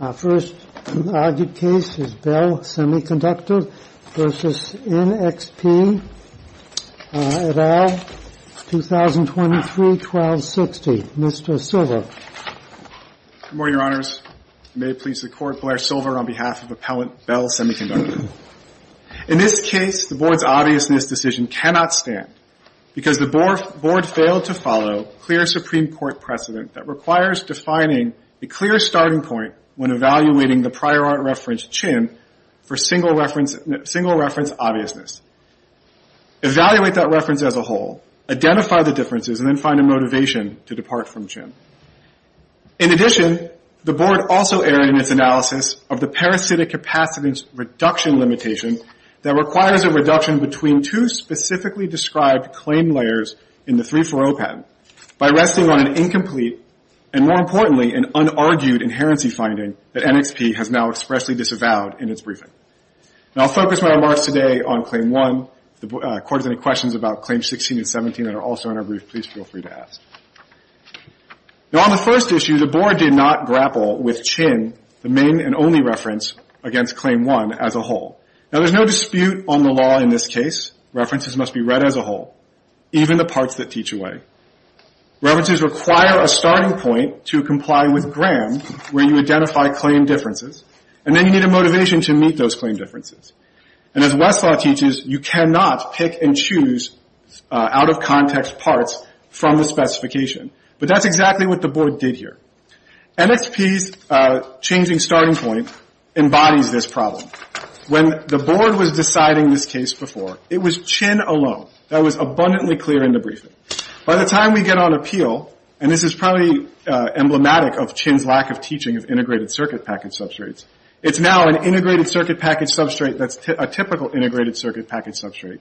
Our first argued case is Bell Semiconductor v. NXP, et al., 2023-1260. Mr. Silver. Good morning, Your Honors. May it please the Court, Blair Silver on behalf of Appellant Bell Semiconductor. In this case, the Board's obviousness decision cannot stand because the Board failed to follow a clear Supreme Court precedent that requires defining a clear starting point when evaluating the prior art reference, CHIM, for single reference obviousness. Evaluate that reference as a whole, identify the differences, and then find a motivation to depart from CHIM. In addition, the Board also erred in its analysis of the parasitic capacitance reduction limitation that requires a reduction between two specifically described claim layers in the 340 patent by resting on an incomplete and, more importantly, an unargued inherency finding that NXP has now expressly disavowed in its briefing. Now, I'll focus my remarks today on Claim 1. If the Court has any questions about Claims 16 and 17 that are also in our brief, please feel free to ask. Now, on the first issue, the Board did not grapple with CHIM, the main and only reference against Claim 1 as a whole. Now, there's no dispute on the law in this case. References must be read as a whole, even the parts that teach away. References require a starting point to comply with GRAM, where you identify claim differences, and then you need a motivation to meet those claim differences. And as Westlaw teaches, you cannot pick and choose out-of-context parts from the specification. But that's exactly what the Board did here. NXP's changing starting point embodies this problem. When the Board was deciding this case before, it was CHIM alone that was abundantly clear in the briefing. By the time we get on appeal, and this is probably emblematic of CHIM's lack of teaching of integrated circuit package substrates, it's now an integrated circuit package substrate that's a typical integrated circuit package substrate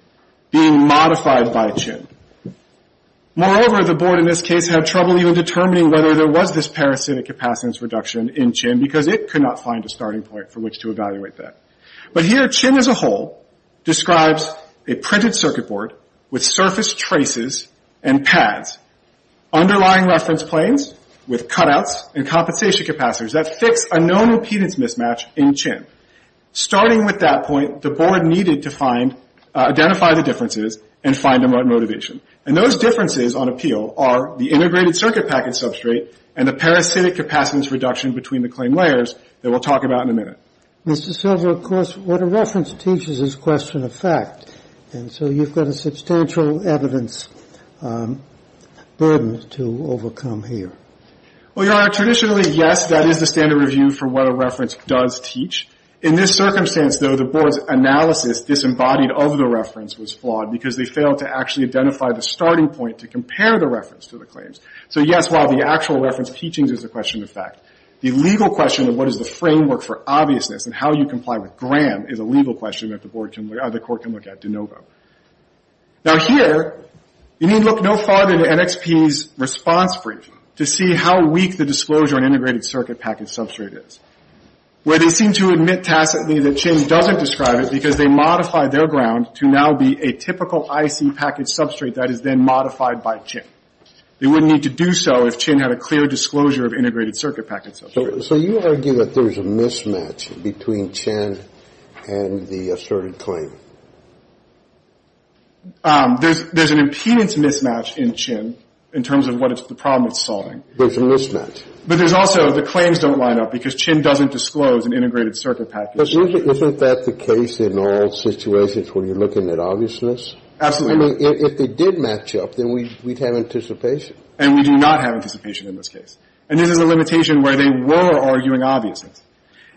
being modified by CHIM. Moreover, the Board in this case had trouble even determining whether there was this parasitic capacitance reduction in CHIM because it could not find a starting point for which to evaluate that. But here, CHIM as a whole describes a printed circuit board with surface traces and pads, underlying reference planes with cutouts and compensation capacitors that fix a known impedance mismatch in CHIM. Starting with that point, the Board needed to find, identify the differences and find a motivation. And those differences on appeal are the integrated circuit package substrate and the parasitic capacitance reduction between the claim layers that we'll talk about in a minute. Mr. Silver, of course, what a reference teaches is question of fact. And so you've got a substantial evidence burden to overcome here. Well, Your Honor, traditionally, yes, that is the standard review for what a reference does teach. In this circumstance, though, the Board's analysis disembodied of the reference was flawed because they failed to actually identify the starting point to compare the reference to the claims. So yes, while the actual reference teachings is a question of fact, the legal question of what is the framework for obviousness and how you comply with GRAM is a legal question that the Court can look at de novo. Now, here, you need look no farther than NXP's response briefing to see how weak the disclosure on integrated circuit package substrate is, where they seem to admit tacitly that CHIM doesn't describe it because they modified their ground to now be a typical IC package substrate that is then modified by CHIM. They wouldn't need to do so if CHIM had a clear disclosure of integrated circuit package substrate. So you argue that there's a mismatch between CHIM and the asserted claim? There's an impedance mismatch in CHIM in terms of what it's the problem it's solving. There's a mismatch. But there's also the claims don't line up because CHIM doesn't disclose an integrated circuit package. Isn't that the case in all situations where you're looking at obviousness? Absolutely. I mean, if they did match up, then we'd have anticipation. And we do not have anticipation in this case. And this is a limitation where they were arguing obviousness.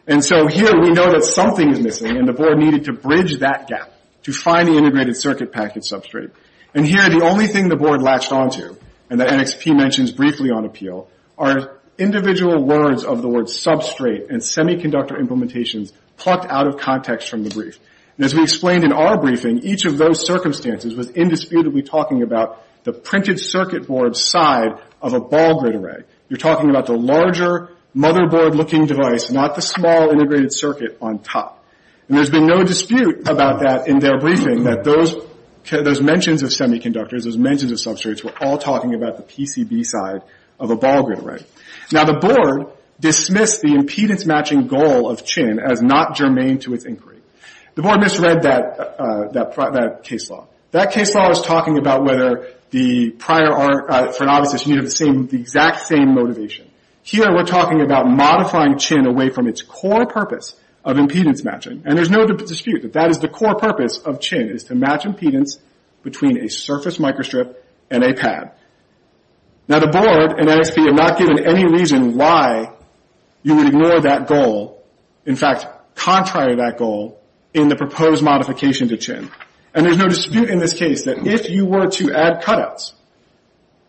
And so here, we know that something is missing, and the board needed to bridge that gap to find the integrated circuit package substrate. And here, the only thing the board latched onto, and that NXP mentions briefly on appeal, are individual words of the word substrate and semiconductor implementations plucked out of context from the brief. And as we explained in our briefing, each of those circumstances was indisputably talking about the printed circuit board side of a ball grid array. You're talking about the larger motherboard-looking device, not the small integrated circuit on top. And there's been no dispute about that in their briefing, that those mentions of semiconductors, those mentions of substrates, were all talking about the PCB side of a ball grid array. Now, the board dismissed the impedance-matching goal of CHIM as not germane to its inquiry. The board misread that case law. That case law is talking about whether the prior, for an obviousness, you need the exact same motivation. Here, we're talking about modifying CHIM away from its core purpose of impedance-matching. And there's no dispute that that is the core purpose of CHIM, is to match impedance between a surface microstrip and a pad. Now, the board and NXP have not given any reason why you would ignore that goal, in fact, contrary to that goal, in the proposed modification to CHIM. And there's no dispute in this case that if you were to add cutouts,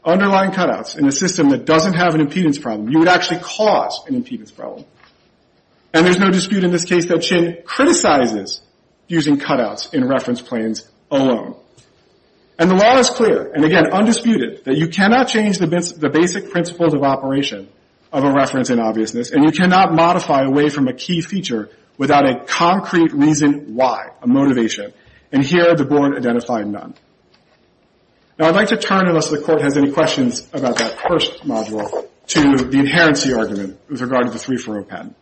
underlying cutouts, in a system that doesn't have an impedance problem, you would actually cause an impedance problem. And there's no dispute in this case that CHIM criticizes using cutouts in reference planes alone. And the law is clear, and again, undisputed, that you cannot change the basic principles of operation of a reference in obviousness, and you cannot modify away from a key feature without a concrete reason why, a motivation. And here, the board identified none. Now, I'd like to turn, unless the court has any questions about that first module, to the inherency argument with regard to the 3-4-0 patent.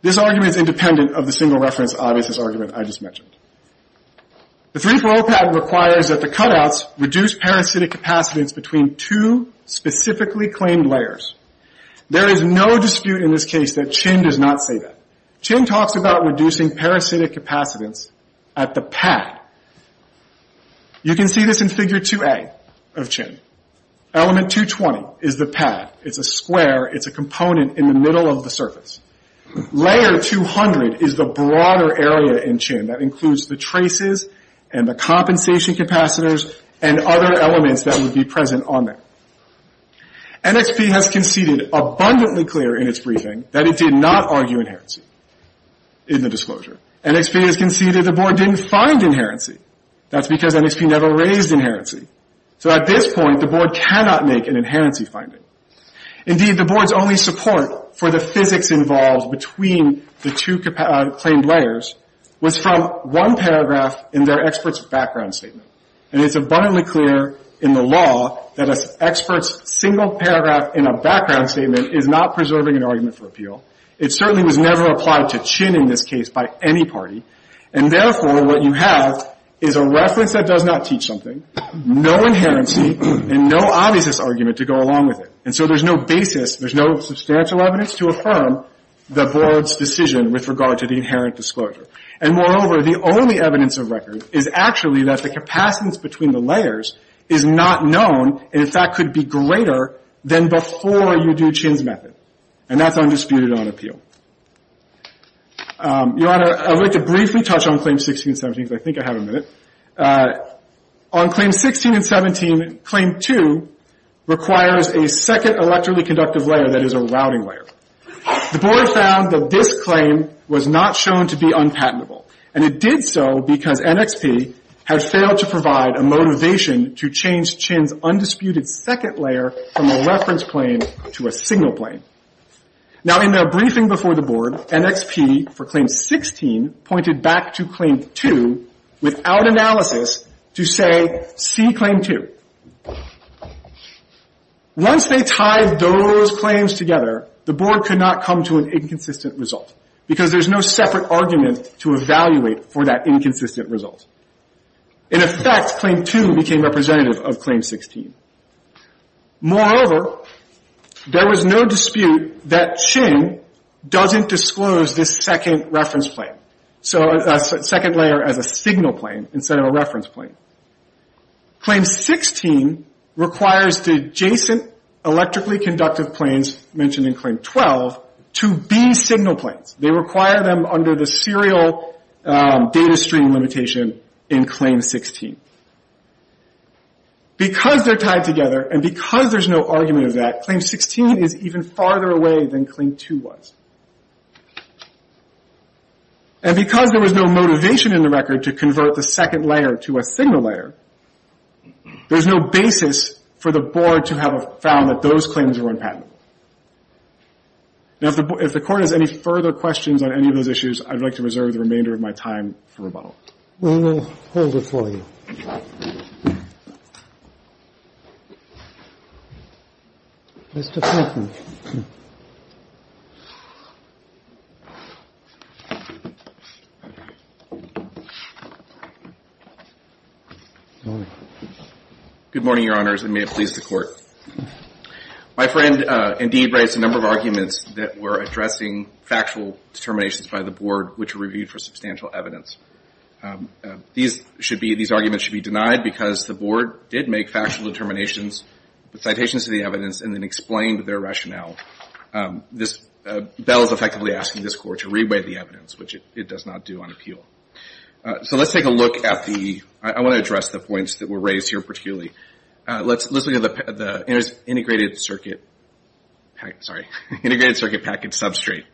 This argument is independent of the single reference obviousness argument I just mentioned. The 3-4-0 patent requires that the cutouts reduce parasitic capacitance between two specifically claimed layers. There is no dispute in this case that CHIM does not say that. CHIM talks about reducing parasitic capacitance at the pad. You can see this in Figure 2a of CHIM. Element 220 is the pad. It's a square. It's a component in the middle of the surface. Layer 200 is the broader area in CHIM that includes the traces and the compensation capacitors and other elements that would be present on there. NXP has conceded abundantly clear in its briefing that it did not argue inherency in the disclosure. NXP has conceded the board didn't find inherency. That's because NXP never raised inherency. So at this point, the board cannot make an inherency finding. Indeed, the board's only support for the physics involved between the two claimed layers was from one paragraph in their expert's background statement. And it's abundantly clear in the law that an expert's single paragraph in a background statement is not preserving an argument for appeal. It certainly was never applied to CHIM in this case by any party. And therefore, what you have is a reference that does not teach something, no inherency, and no obviousness argument to go along with it. And so there's no basis, there's no substantial evidence to affirm the board's decision with regard to the inherent disclosure. And moreover, the only evidence of record is actually that the capacitance between the layers is not known, and in fact could be greater than before you do CHIM's method. And that's undisputed on appeal. Your Honor, I would like to briefly touch on Claims 16 and 17 because I think I have a minute. On Claims 16 and 17, Claim 2 requires a second electrically conductive layer that is a routing layer. The board found that this claim was not shown to be unpatentable. And it did so because NXP had failed to provide a motivation to change CHIM's undisputed second layer from a reference claim to a signal claim. Now, in their briefing before the board, NXP for Claim 16 pointed back to Claim 2 without analysis to say, see Claim 2. Once they tied those claims together, the board could not come to an inconsistent result because there's no separate argument to evaluate for that inconsistent result. In effect, Claim 2 became representative of Claim 16. Moreover, there was no dispute that CHIM doesn't disclose this second reference claim, so a second layer as a signal claim instead of a reference claim. Claim 16 requires the adjacent electrically conductive planes mentioned in Claim 12 to be signal planes. They require them under the serial data stream limitation in Claim 16. Because they're tied together and because there's no argument of that, Claim 16 is even farther away than Claim 2 was. And because there was no motivation in the record to convert the second layer to a signal layer, there's no basis for the board to have found that those claims were unpatented. Now, if the court has any further questions on any of those issues, I'd like to reserve the remainder of my time for rebuttal. We will hold it for you. Mr. Fenton. Good morning, Your Honors, and may it please the Court. My friend, Indeed, raised a number of arguments that were addressing factual determinations by the board, which were reviewed for substantial evidence. These arguments should be denied because the board did make factual determinations, citations of the evidence, and then explained their rationale. Bell is effectively asking this Court to reweigh the evidence, which it does not do on appeal. So let's take a look at the – I want to address the points that were raised here particularly. Let's look at the integrated circuit – sorry, integrated circuit package substrate.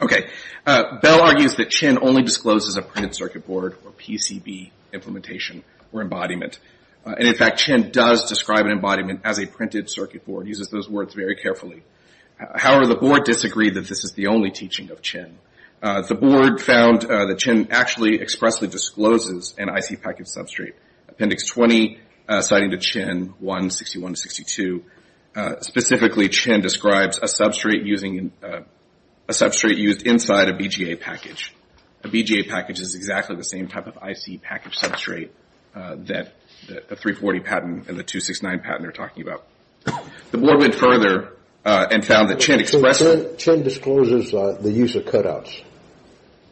Okay. Bell argues that Chinn only discloses a printed circuit board or PCB implementation or embodiment. And, in fact, Chinn does describe an embodiment as a printed circuit board, uses those words very carefully. However, the board disagreed that this is the only teaching of Chinn. The board found that Chinn actually expressly discloses an IC package substrate. Appendix 20, citing to Chinn, 1.61.62. Specifically, Chinn describes a substrate using – a substrate used inside a BGA package. A BGA package is exactly the same type of IC package substrate that the 340 patent and the 269 patent are talking about. The board went further and found that Chinn expressly – So Chinn discloses the use of cutouts.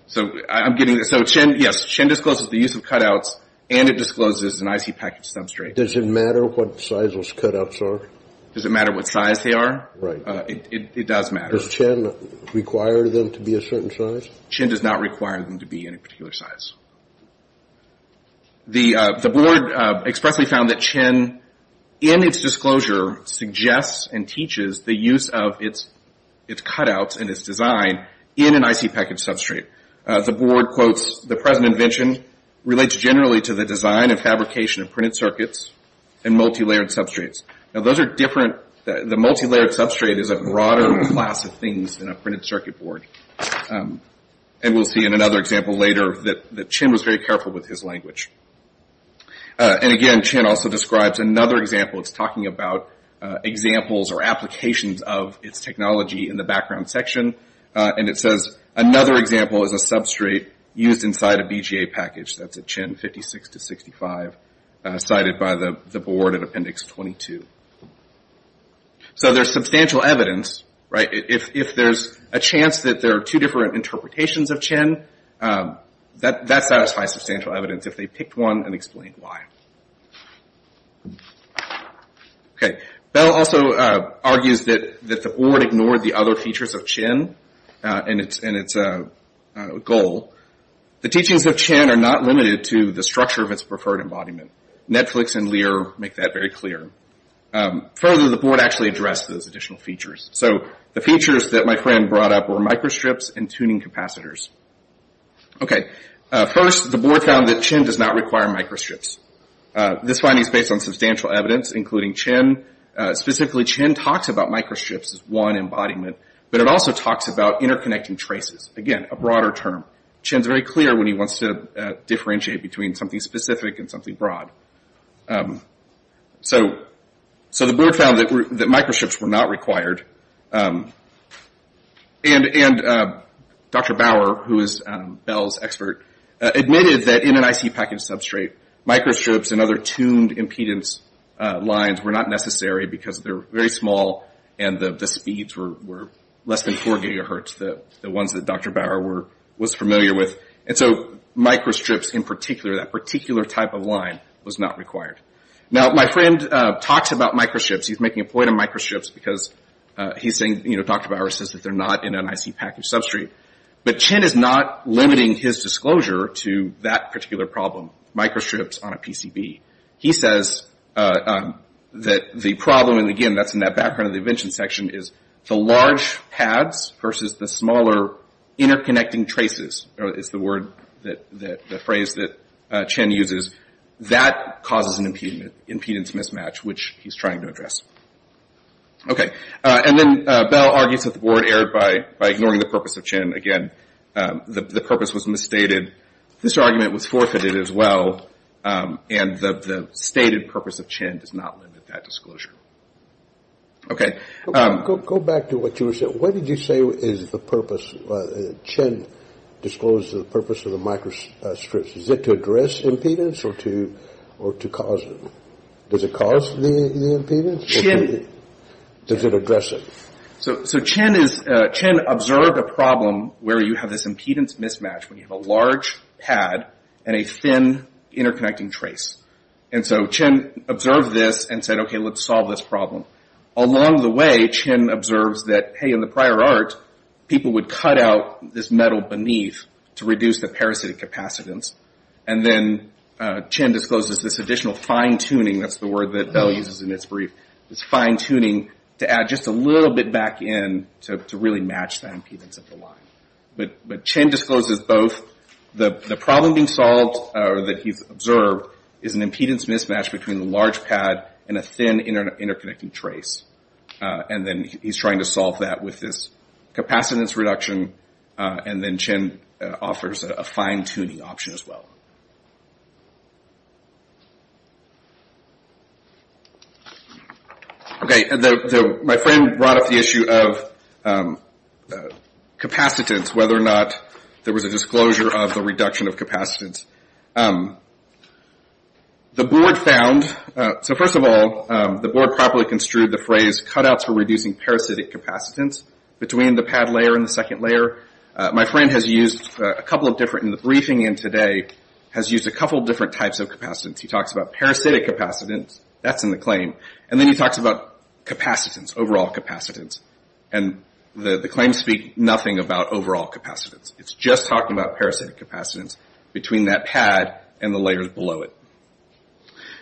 So I'm getting – so Chinn – yes, Chinn discloses the use of cutouts and it discloses an IC package substrate. Does it matter what size those cutouts are? Does it matter what size they are? Right. It does matter. Does Chinn require them to be a certain size? Chinn does not require them to be any particular size. The board expressly found that Chinn, in its disclosure, suggests and teaches the use of its cutouts and its design in an IC package substrate. The board quotes, The present invention relates generally to the design and fabrication of printed circuits and multilayered substrates. Now, those are different – the multilayered substrate is a broader class of things than a printed circuit board. And we'll see in another example later that Chinn was very careful with his language. And again, Chinn also describes another example. It's talking about examples or applications of its technology in the background section. And it says, Another example is a substrate used inside a BGA package. That's a Chinn 56-65 cited by the board in Appendix 22. So there's substantial evidence, right? If there's a chance that there are two different interpretations of Chinn, that satisfies substantial evidence if they picked one and explained why. Okay. Bell also argues that the board ignored the other features of Chinn and its goal. The teachings of Chinn are not limited to the structure of its preferred embodiment. Netflix and Lear make that very clear. Further, the board actually addressed those additional features. So the features that my friend brought up were microstrips and tuning capacitors. Okay. First, the board found that Chinn does not require microstrips. This finding is based on substantial evidence, including Chinn. Specifically, Chinn talks about microstrips as one embodiment. But it also talks about interconnecting traces. Again, a broader term. Chinn's very clear when he wants to differentiate between something specific and something broad. So the board found that microstrips were not required. And Dr. Bauer, who is Bell's expert, admitted that in an IC package substrate, microstrips and other tuned impedance lines were not necessary because they're very small and the speeds were less than 4 gigahertz, the ones that Dr. Bauer was familiar with. And so microstrips in particular, that particular type of line, was not required. Now, my friend talks about microstrips. He's making a point on microstrips because he's saying, you know, Dr. Bauer says that they're not in an IC package substrate. But Chinn is not limiting his disclosure to that particular problem, microstrips on a PCB. He says that the problem, and again, that's in that background of the invention section, is the large pads versus the smaller interconnecting traces is the phrase that Chinn uses. That causes an impedance mismatch, which he's trying to address. Okay. And then Bell argues that the board erred by ignoring the purpose of Chinn. Again, the purpose was misstated. This argument was forfeited as well. And the stated purpose of Chinn does not limit that disclosure. Okay. Go back to what you were saying. What did you say is the purpose? Chinn disclosed the purpose of the microstrips. Is it to address impedance or to cause it? Does it cause the impedance? Chinn. Does it address it? So Chinn observed a problem where you have this impedance mismatch, where you have a large pad and a thin interconnecting trace. And so Chinn observed this and said, okay, let's solve this problem. Along the way, Chinn observes that, hey, in the prior art, people would cut out this metal beneath to reduce the parasitic capacitance. And then Chinn discloses this additional fine-tuning, that's the word that Bell uses in his brief, this fine-tuning to add just a little bit back in to really match the impedance of the line. But Chinn discloses both. The problem being solved that he's observed is an impedance mismatch between the large pad and a thin interconnecting trace. And then he's trying to solve that with this capacitance reduction. And then Chinn offers a fine-tuning option as well. Okay. My friend brought up the issue of capacitance, whether or not there was a disclosure of the reduction of capacitance. The board found, so first of all, the board properly construed the phrase cutouts for reducing parasitic capacitance between the pad layer and the second layer. My friend has used a couple of different, in the briefing in today, has used a couple of different types of capacitance. He talks about parasitic capacitance, that's in the claim. And then he talks about capacitance, overall capacitance. And the claims speak nothing about overall capacitance. It's just talking about parasitic capacitance between that pad and the layers below it.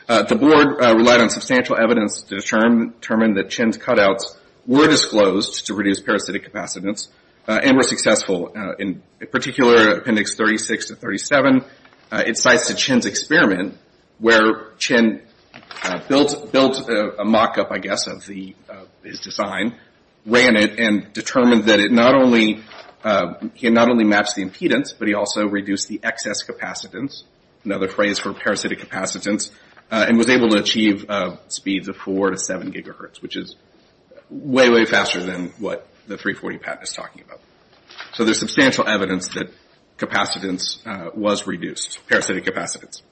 The board relied on substantial evidence to determine that Chinn's cutouts were disclosed to reduce parasitic capacitance and were successful. In particular, Appendix 36 to 37, it cites the Chinn's experiment where Chinn built a mock-up, I guess, of his design, ran it, and determined that it not only matched the impedance, but he also reduced the excess capacitance, another phrase for parasitic capacitance, and was able to achieve speeds of four to seven gigahertz, which is way, way faster than what the 340 pad is talking about. So there's substantial evidence that capacitance was reduced, parasitic capacitance.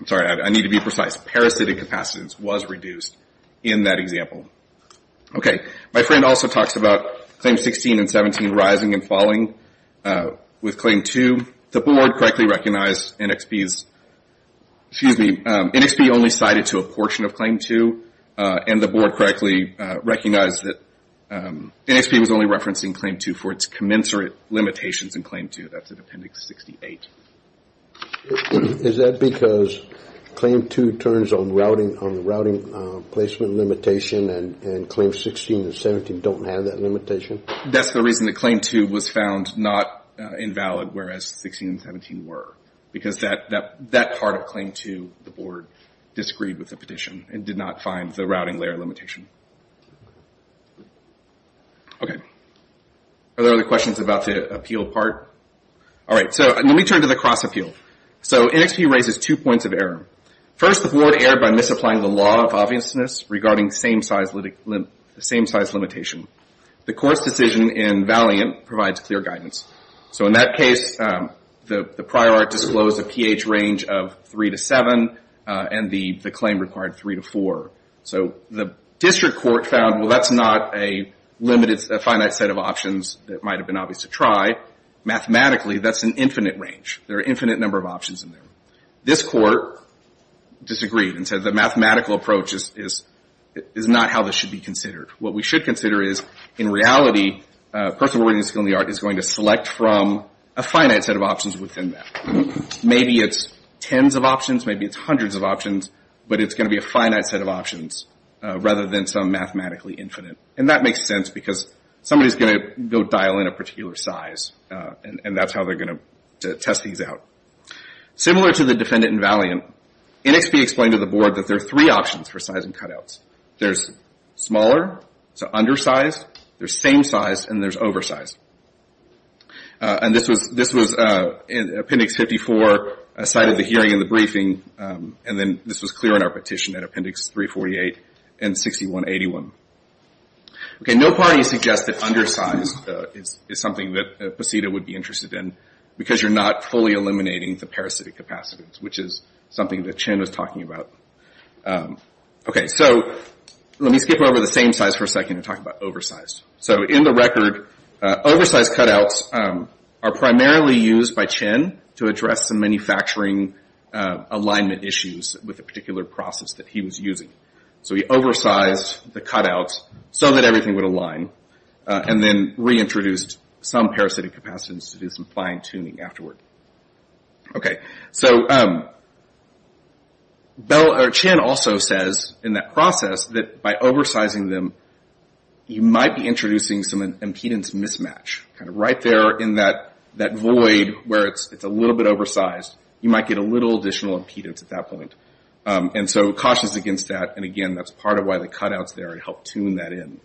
I'm sorry, I need to be precise. Parasitic capacitance was reduced in that example. Okay. My friend also talks about Claim 16 and 17 rising and falling. With Claim 2, the board correctly recognized NXP's, excuse me, NXP only cited to a portion of Claim 2, and the board correctly recognized that NXP was only referencing Claim 2 for its commensurate limitations in Claim 2. That's in Appendix 68. Is that because Claim 2 turns on routing placement limitation and Claim 16 and 17 don't have that limitation? That's the reason that Claim 2 was found not invalid, whereas 16 and 17 were, because that part of Claim 2 the board disagreed with the petition and did not find the routing layer limitation. Okay. Are there other questions about the appeal part? All right. So let me turn to the cross-appeal. So NXP raises two points of error. First, the board erred by misapplying the law of obviousness regarding same-size limitation. The court's decision in Valiant provides clear guidance. So in that case, the prior art disclosed a pH range of 3 to 7, and the claim required 3 to 4. So the district court found, well, that's not a limited, a finite set of options that might have been obvious to try. Mathematically, that's an infinite range. There are an infinite number of options in there. This court disagreed and said the mathematical approach is not how this should be considered. What we should consider is, in reality, a person with a reading skill in the art is going to select from a finite set of options within that. Maybe it's tens of options, maybe it's hundreds of options, but it's going to be a finite set of options rather than some mathematically infinite. And that makes sense because somebody is going to go dial in a particular size, and that's how they're going to test these out. Similar to the defendant in Valiant, NXP explained to the board that there are three options for size and cutouts. There's smaller, so undersized, there's same size, and there's oversized. And this was in Appendix 54, a site of the hearing and the briefing, and then this was clear in our petition at Appendix 348 and 6181. Okay, no parties suggest that undersized is something that Pasita would be interested in because you're not fully eliminating the parasitic capacitance, which is something that Chen was talking about. Okay, so let me skip over the same size for a second and talk about oversized. So in the record, oversized cutouts are primarily used by Chen to address some manufacturing alignment issues with a particular process that he was using. So he oversized the cutouts so that everything would align and then reintroduced some parasitic capacitance to do some fine-tuning afterward. Okay, so Chen also says in that process that by oversizing them, you might be introducing some impedance mismatch, kind of right there in that void where it's a little bit oversized. You might get a little additional impedance at that point. And so cautions against that, and again, that's part of why the cutouts there help tune that in.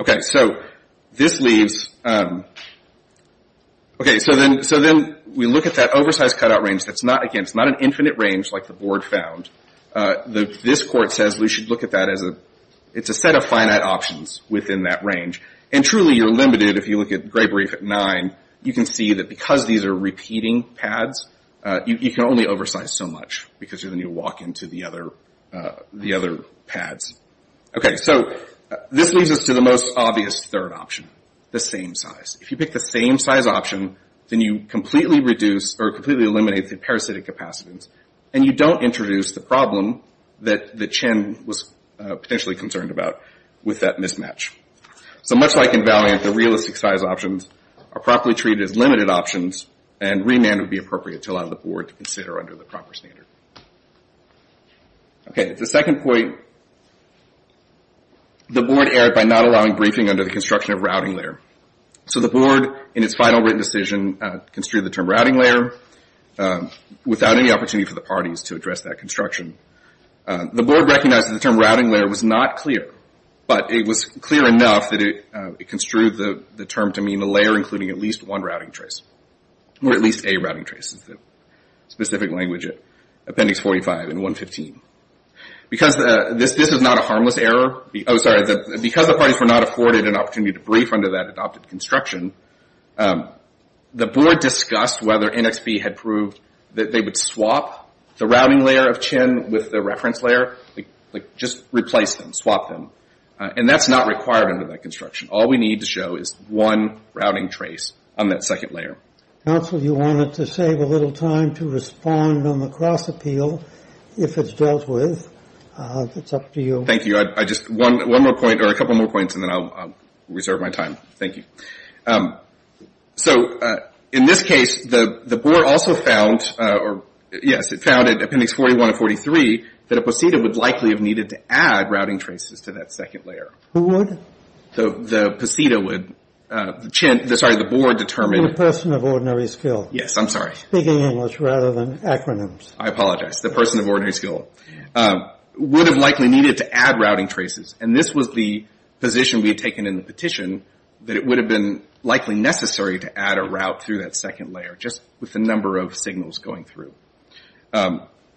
Okay, so this leaves... Okay, so then we look at that oversized cutout range. Again, it's not an infinite range like the board found. This court says we should look at that as a set of finite options within that range. And truly, you're limited if you look at Gray-Brief at 9. You can see that because these are repeating pads, you can only oversize so much because then you walk into the other pads. Okay, so this leads us to the most obvious third option, the same size. If you pick the same size option, then you completely reduce or completely eliminate the parasitic capacitance, and you don't introduce the problem that Chen was potentially concerned about with that mismatch. So much like in Valiant, the realistic size options are properly treated as limited options, and remand would be appropriate to allow the board to consider under the proper standard. Okay, the second point, the board erred by not allowing briefing under the construction of routing layer. So the board, in its final written decision, construed the term routing layer without any opportunity for the parties to address that construction. The board recognized that the term routing layer was not clear, but it was clear enough that it construed the term to mean a layer including at least one routing trace, or at least a routing trace is the specific language at appendix 45 and 115. Because this is not a harmless error, because the parties were not afforded an opportunity to brief under that adopted construction, the board discussed whether NXP had proved that they would swap the routing layer of Chen with the reference layer, like just replace them, swap them, and that's not required under that construction. All we need to show is one routing trace on that second layer. Counsel, you wanted to save a little time to respond on the cross-appeal, if it's dealt with. It's up to you. Thank you. Just one more point, or a couple more points, and then I'll reserve my time. Thank you. So in this case, the board also found, or yes, it found at appendix 41 and 43, that a procedure would likely have needed to add routing traces to that second layer. Who would? The PCETA would. Sorry, the board determined. The person of ordinary skill. Yes, I'm sorry. Speaking English rather than acronyms. I apologize. The person of ordinary skill would have likely needed to add routing traces. And this was the position we had taken in the petition, that it would have been likely necessary to add a route through that second layer, just with the number of signals going through.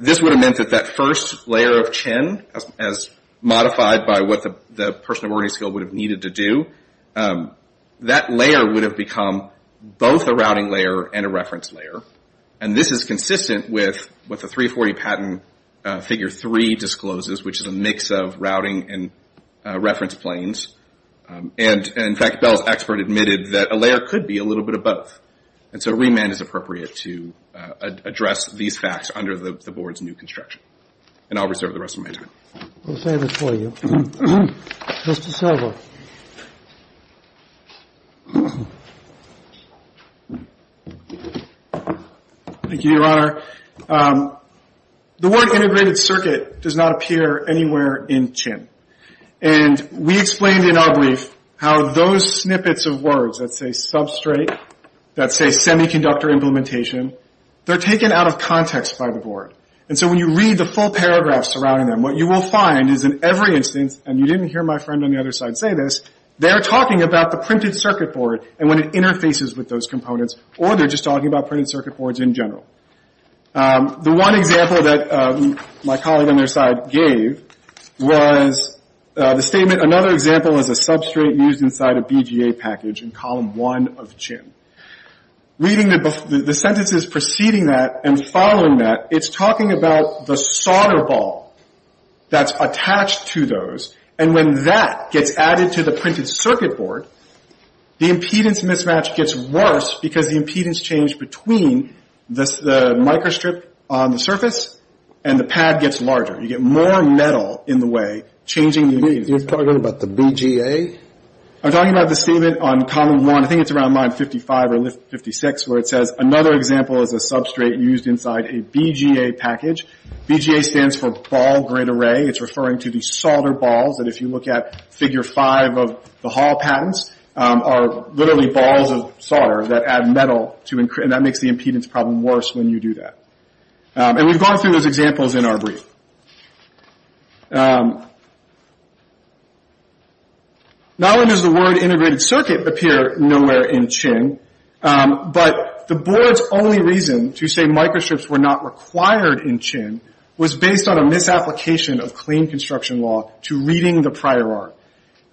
This would have meant that that first layer of Chen, as modified by what the person of ordinary skill would have needed to do, that layer would have become both a routing layer and a reference layer. And this is consistent with what the 340 patent figure 3 discloses, which is a mix of routing and reference planes. And, in fact, Bell's expert admitted that a layer could be a little bit of both. And so remand is appropriate to address these facts under the board's new construction. And I'll reserve the rest of my time. We'll save it for you. Mr. Silver. Thank you, Your Honor. The word integrated circuit does not appear anywhere in Chen. And we explained in our brief how those snippets of words, let's say substrate, let's say semiconductor implementation, they're taken out of context by the board. And so when you read the full paragraph surrounding them, what you will find is in every instance, and you didn't hear my friend on the other side say this, they're talking about the printed circuit board and when it interfaces with those components, or they're just talking about printed circuit boards in general. The one example that my colleague on their side gave was the statement, another example is a substrate used inside a BGA package in column one of Chen. Reading the sentences preceding that and following that, it's talking about the solder ball that's attached to those. And when that gets added to the printed circuit board, the impedance mismatch gets worse because the impedance changed between the microstrip on the surface and the pad gets larger. You get more metal in the way, changing the impedance. You're talking about the BGA? I'm talking about the statement on column one, I think it's around line 55 or 56, where it says another example is a substrate used inside a BGA package. BGA stands for ball grid array. It's referring to the solder balls that if you look at figure five of the Hall patents, are literally balls of solder that add metal, and that makes the impedance problem worse when you do that. And we've gone through those examples in our brief. Not only does the word integrated circuit appear nowhere in Chen, but the board's only reason to say microstrips were not required in Chen was based on a misapplication of clean construction law to reading the prior art.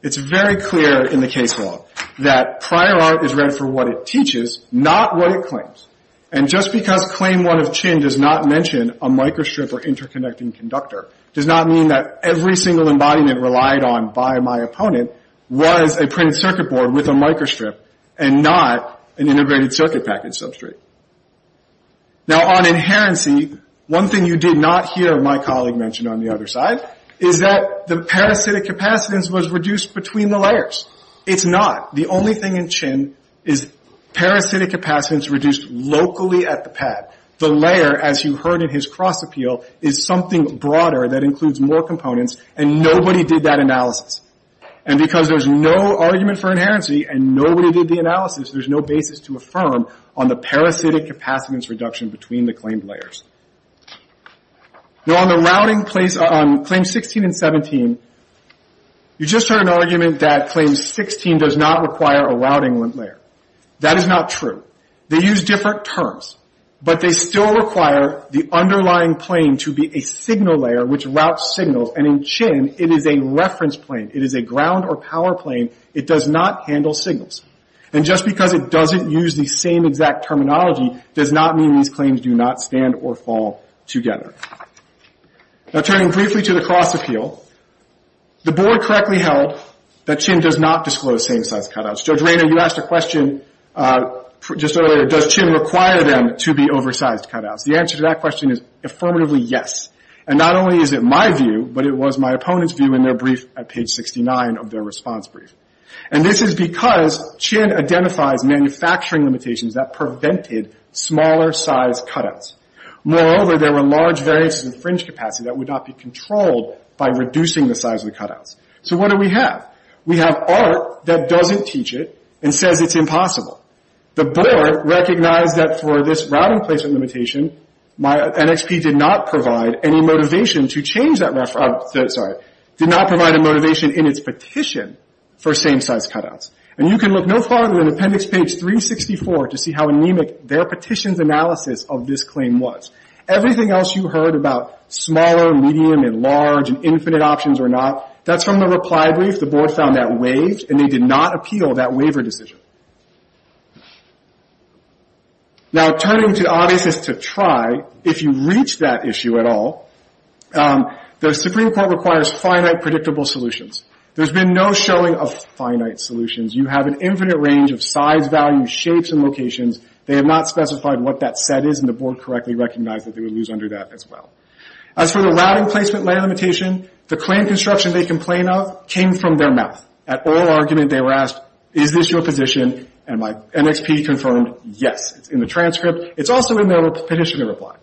It's very clear in the case law that prior art is read for what it teaches, not what it claims. And just because claim one of Chen does not mention a microstrip or interconnecting conductor does not mean that every single embodiment relied on by my opponent was a printed circuit board with a microstrip and not an integrated circuit package substrate. Now on inherency, one thing you did not hear my colleague mention on the other side is that the parasitic capacitance was reduced between the layers. It's not. The only thing in Chen is parasitic capacitance reduced locally at the pad. The layer, as you heard in his cross appeal, is something broader that includes more components, and nobody did that analysis. And because there's no argument for inherency and nobody did the analysis, there's no basis to affirm on the parasitic capacitance reduction between the claimed layers. Now on the routing place on claims 16 and 17, you just heard an argument that claim 16 does not require a routing layer. That is not true. They use different terms. But they still require the underlying plane to be a signal layer which routes signals. And in Chen, it is a reference plane. It is a ground or power plane. It does not handle signals. And just because it doesn't use the same exact terminology does not mean these claims do not stand or fall together. Now turning briefly to the cross appeal, the board correctly held that Chen does not disclose same-size cutouts. Judge Rayner, you asked a question just earlier, does Chen require them to be oversized cutouts? The answer to that question is affirmatively yes. And not only is it my view, but it was my opponent's view in their brief at page 69 of their response brief. And this is because Chen identifies manufacturing limitations that prevented smaller-size cutouts. Moreover, there were large variances in fringe capacity that would not be controlled by reducing the size of the cutouts. So what do we have? We have art that doesn't teach it and says it's impossible. The board recognized that for this routing placement limitation, my NXP did not provide any motivation to change that reference. Sorry. Did not provide a motivation in its petition for same-size cutouts. And you can look no farther than appendix page 364 to see how anemic their petition's analysis of this claim was. Everything else you heard about smaller, medium, and large, and infinite options or not, that's from the reply brief. The board found that waived and they did not appeal that waiver decision. Now, turning to the obviousness to try, if you reach that issue at all, the Supreme Court requires finite, predictable solutions. There's been no showing of finite solutions. You have an infinite range of size, value, shapes, and locations. They have not specified what that set is, and the board correctly recognized that they would lose under that as well. As for the routing placement limitation, the claim construction they complain of came from their mouth. At oral argument, they were asked, is this your position? And my NXP confirmed, yes. It's in the transcript. It's also in their petition reply.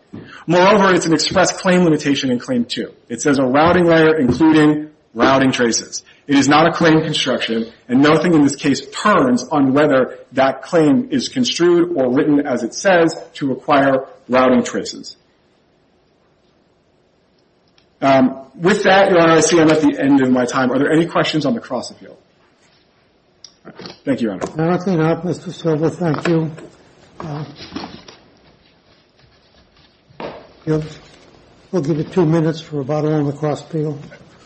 Moreover, it's an express claim limitation in Claim 2. It says a routing layer including routing traces. It is not a claim construction, and nothing in this case turns on whether that claim is construed or written as it says to require routing traces. With that, Your Honor, I see I'm at the end of my time. Are there any questions on the Cross Appeal? Thank you, Your Honor. No, I think not, Mr. Silver. Thank you. We'll give you two minutes for about it on the Cross Appeal.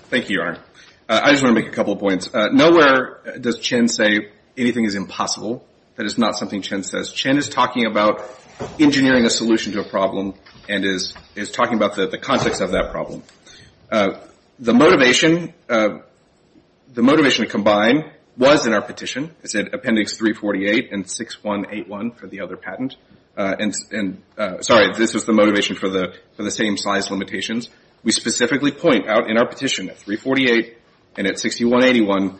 Thank you, Your Honor. I just want to make a couple of points. Nowhere does Chin say anything is impossible. That is not something Chin says. Chin is talking about engineering a solution to a problem and is talking about the context of that problem. The motivation to combine was in our petition. It said Appendix 348 and 6181 for the other patent. Sorry, this is the motivation for the same size limitations. We specifically point out in our petition at 348 and at 6181,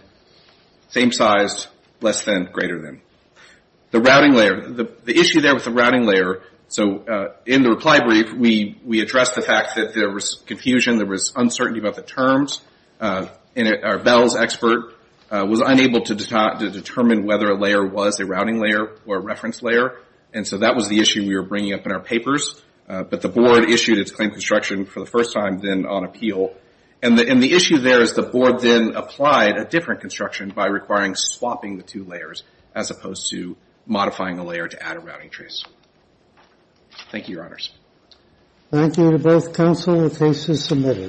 same size, less than, greater than. The routing layer, the issue there with the routing layer, so in the reply brief, we addressed the fact that there was confusion, there was uncertainty about the terms, and our BELLS expert was unable to determine whether a layer was a routing layer or a reference layer, and so that was the issue we were bringing up in our papers. But the board issued its claim construction for the first time then on appeal, and the issue there is the board then applied a different construction by requiring swapping the two layers as opposed to modifying the layer to add a routing trace. Thank you, Your Honors. Thank you to both counsel. The case is submitted.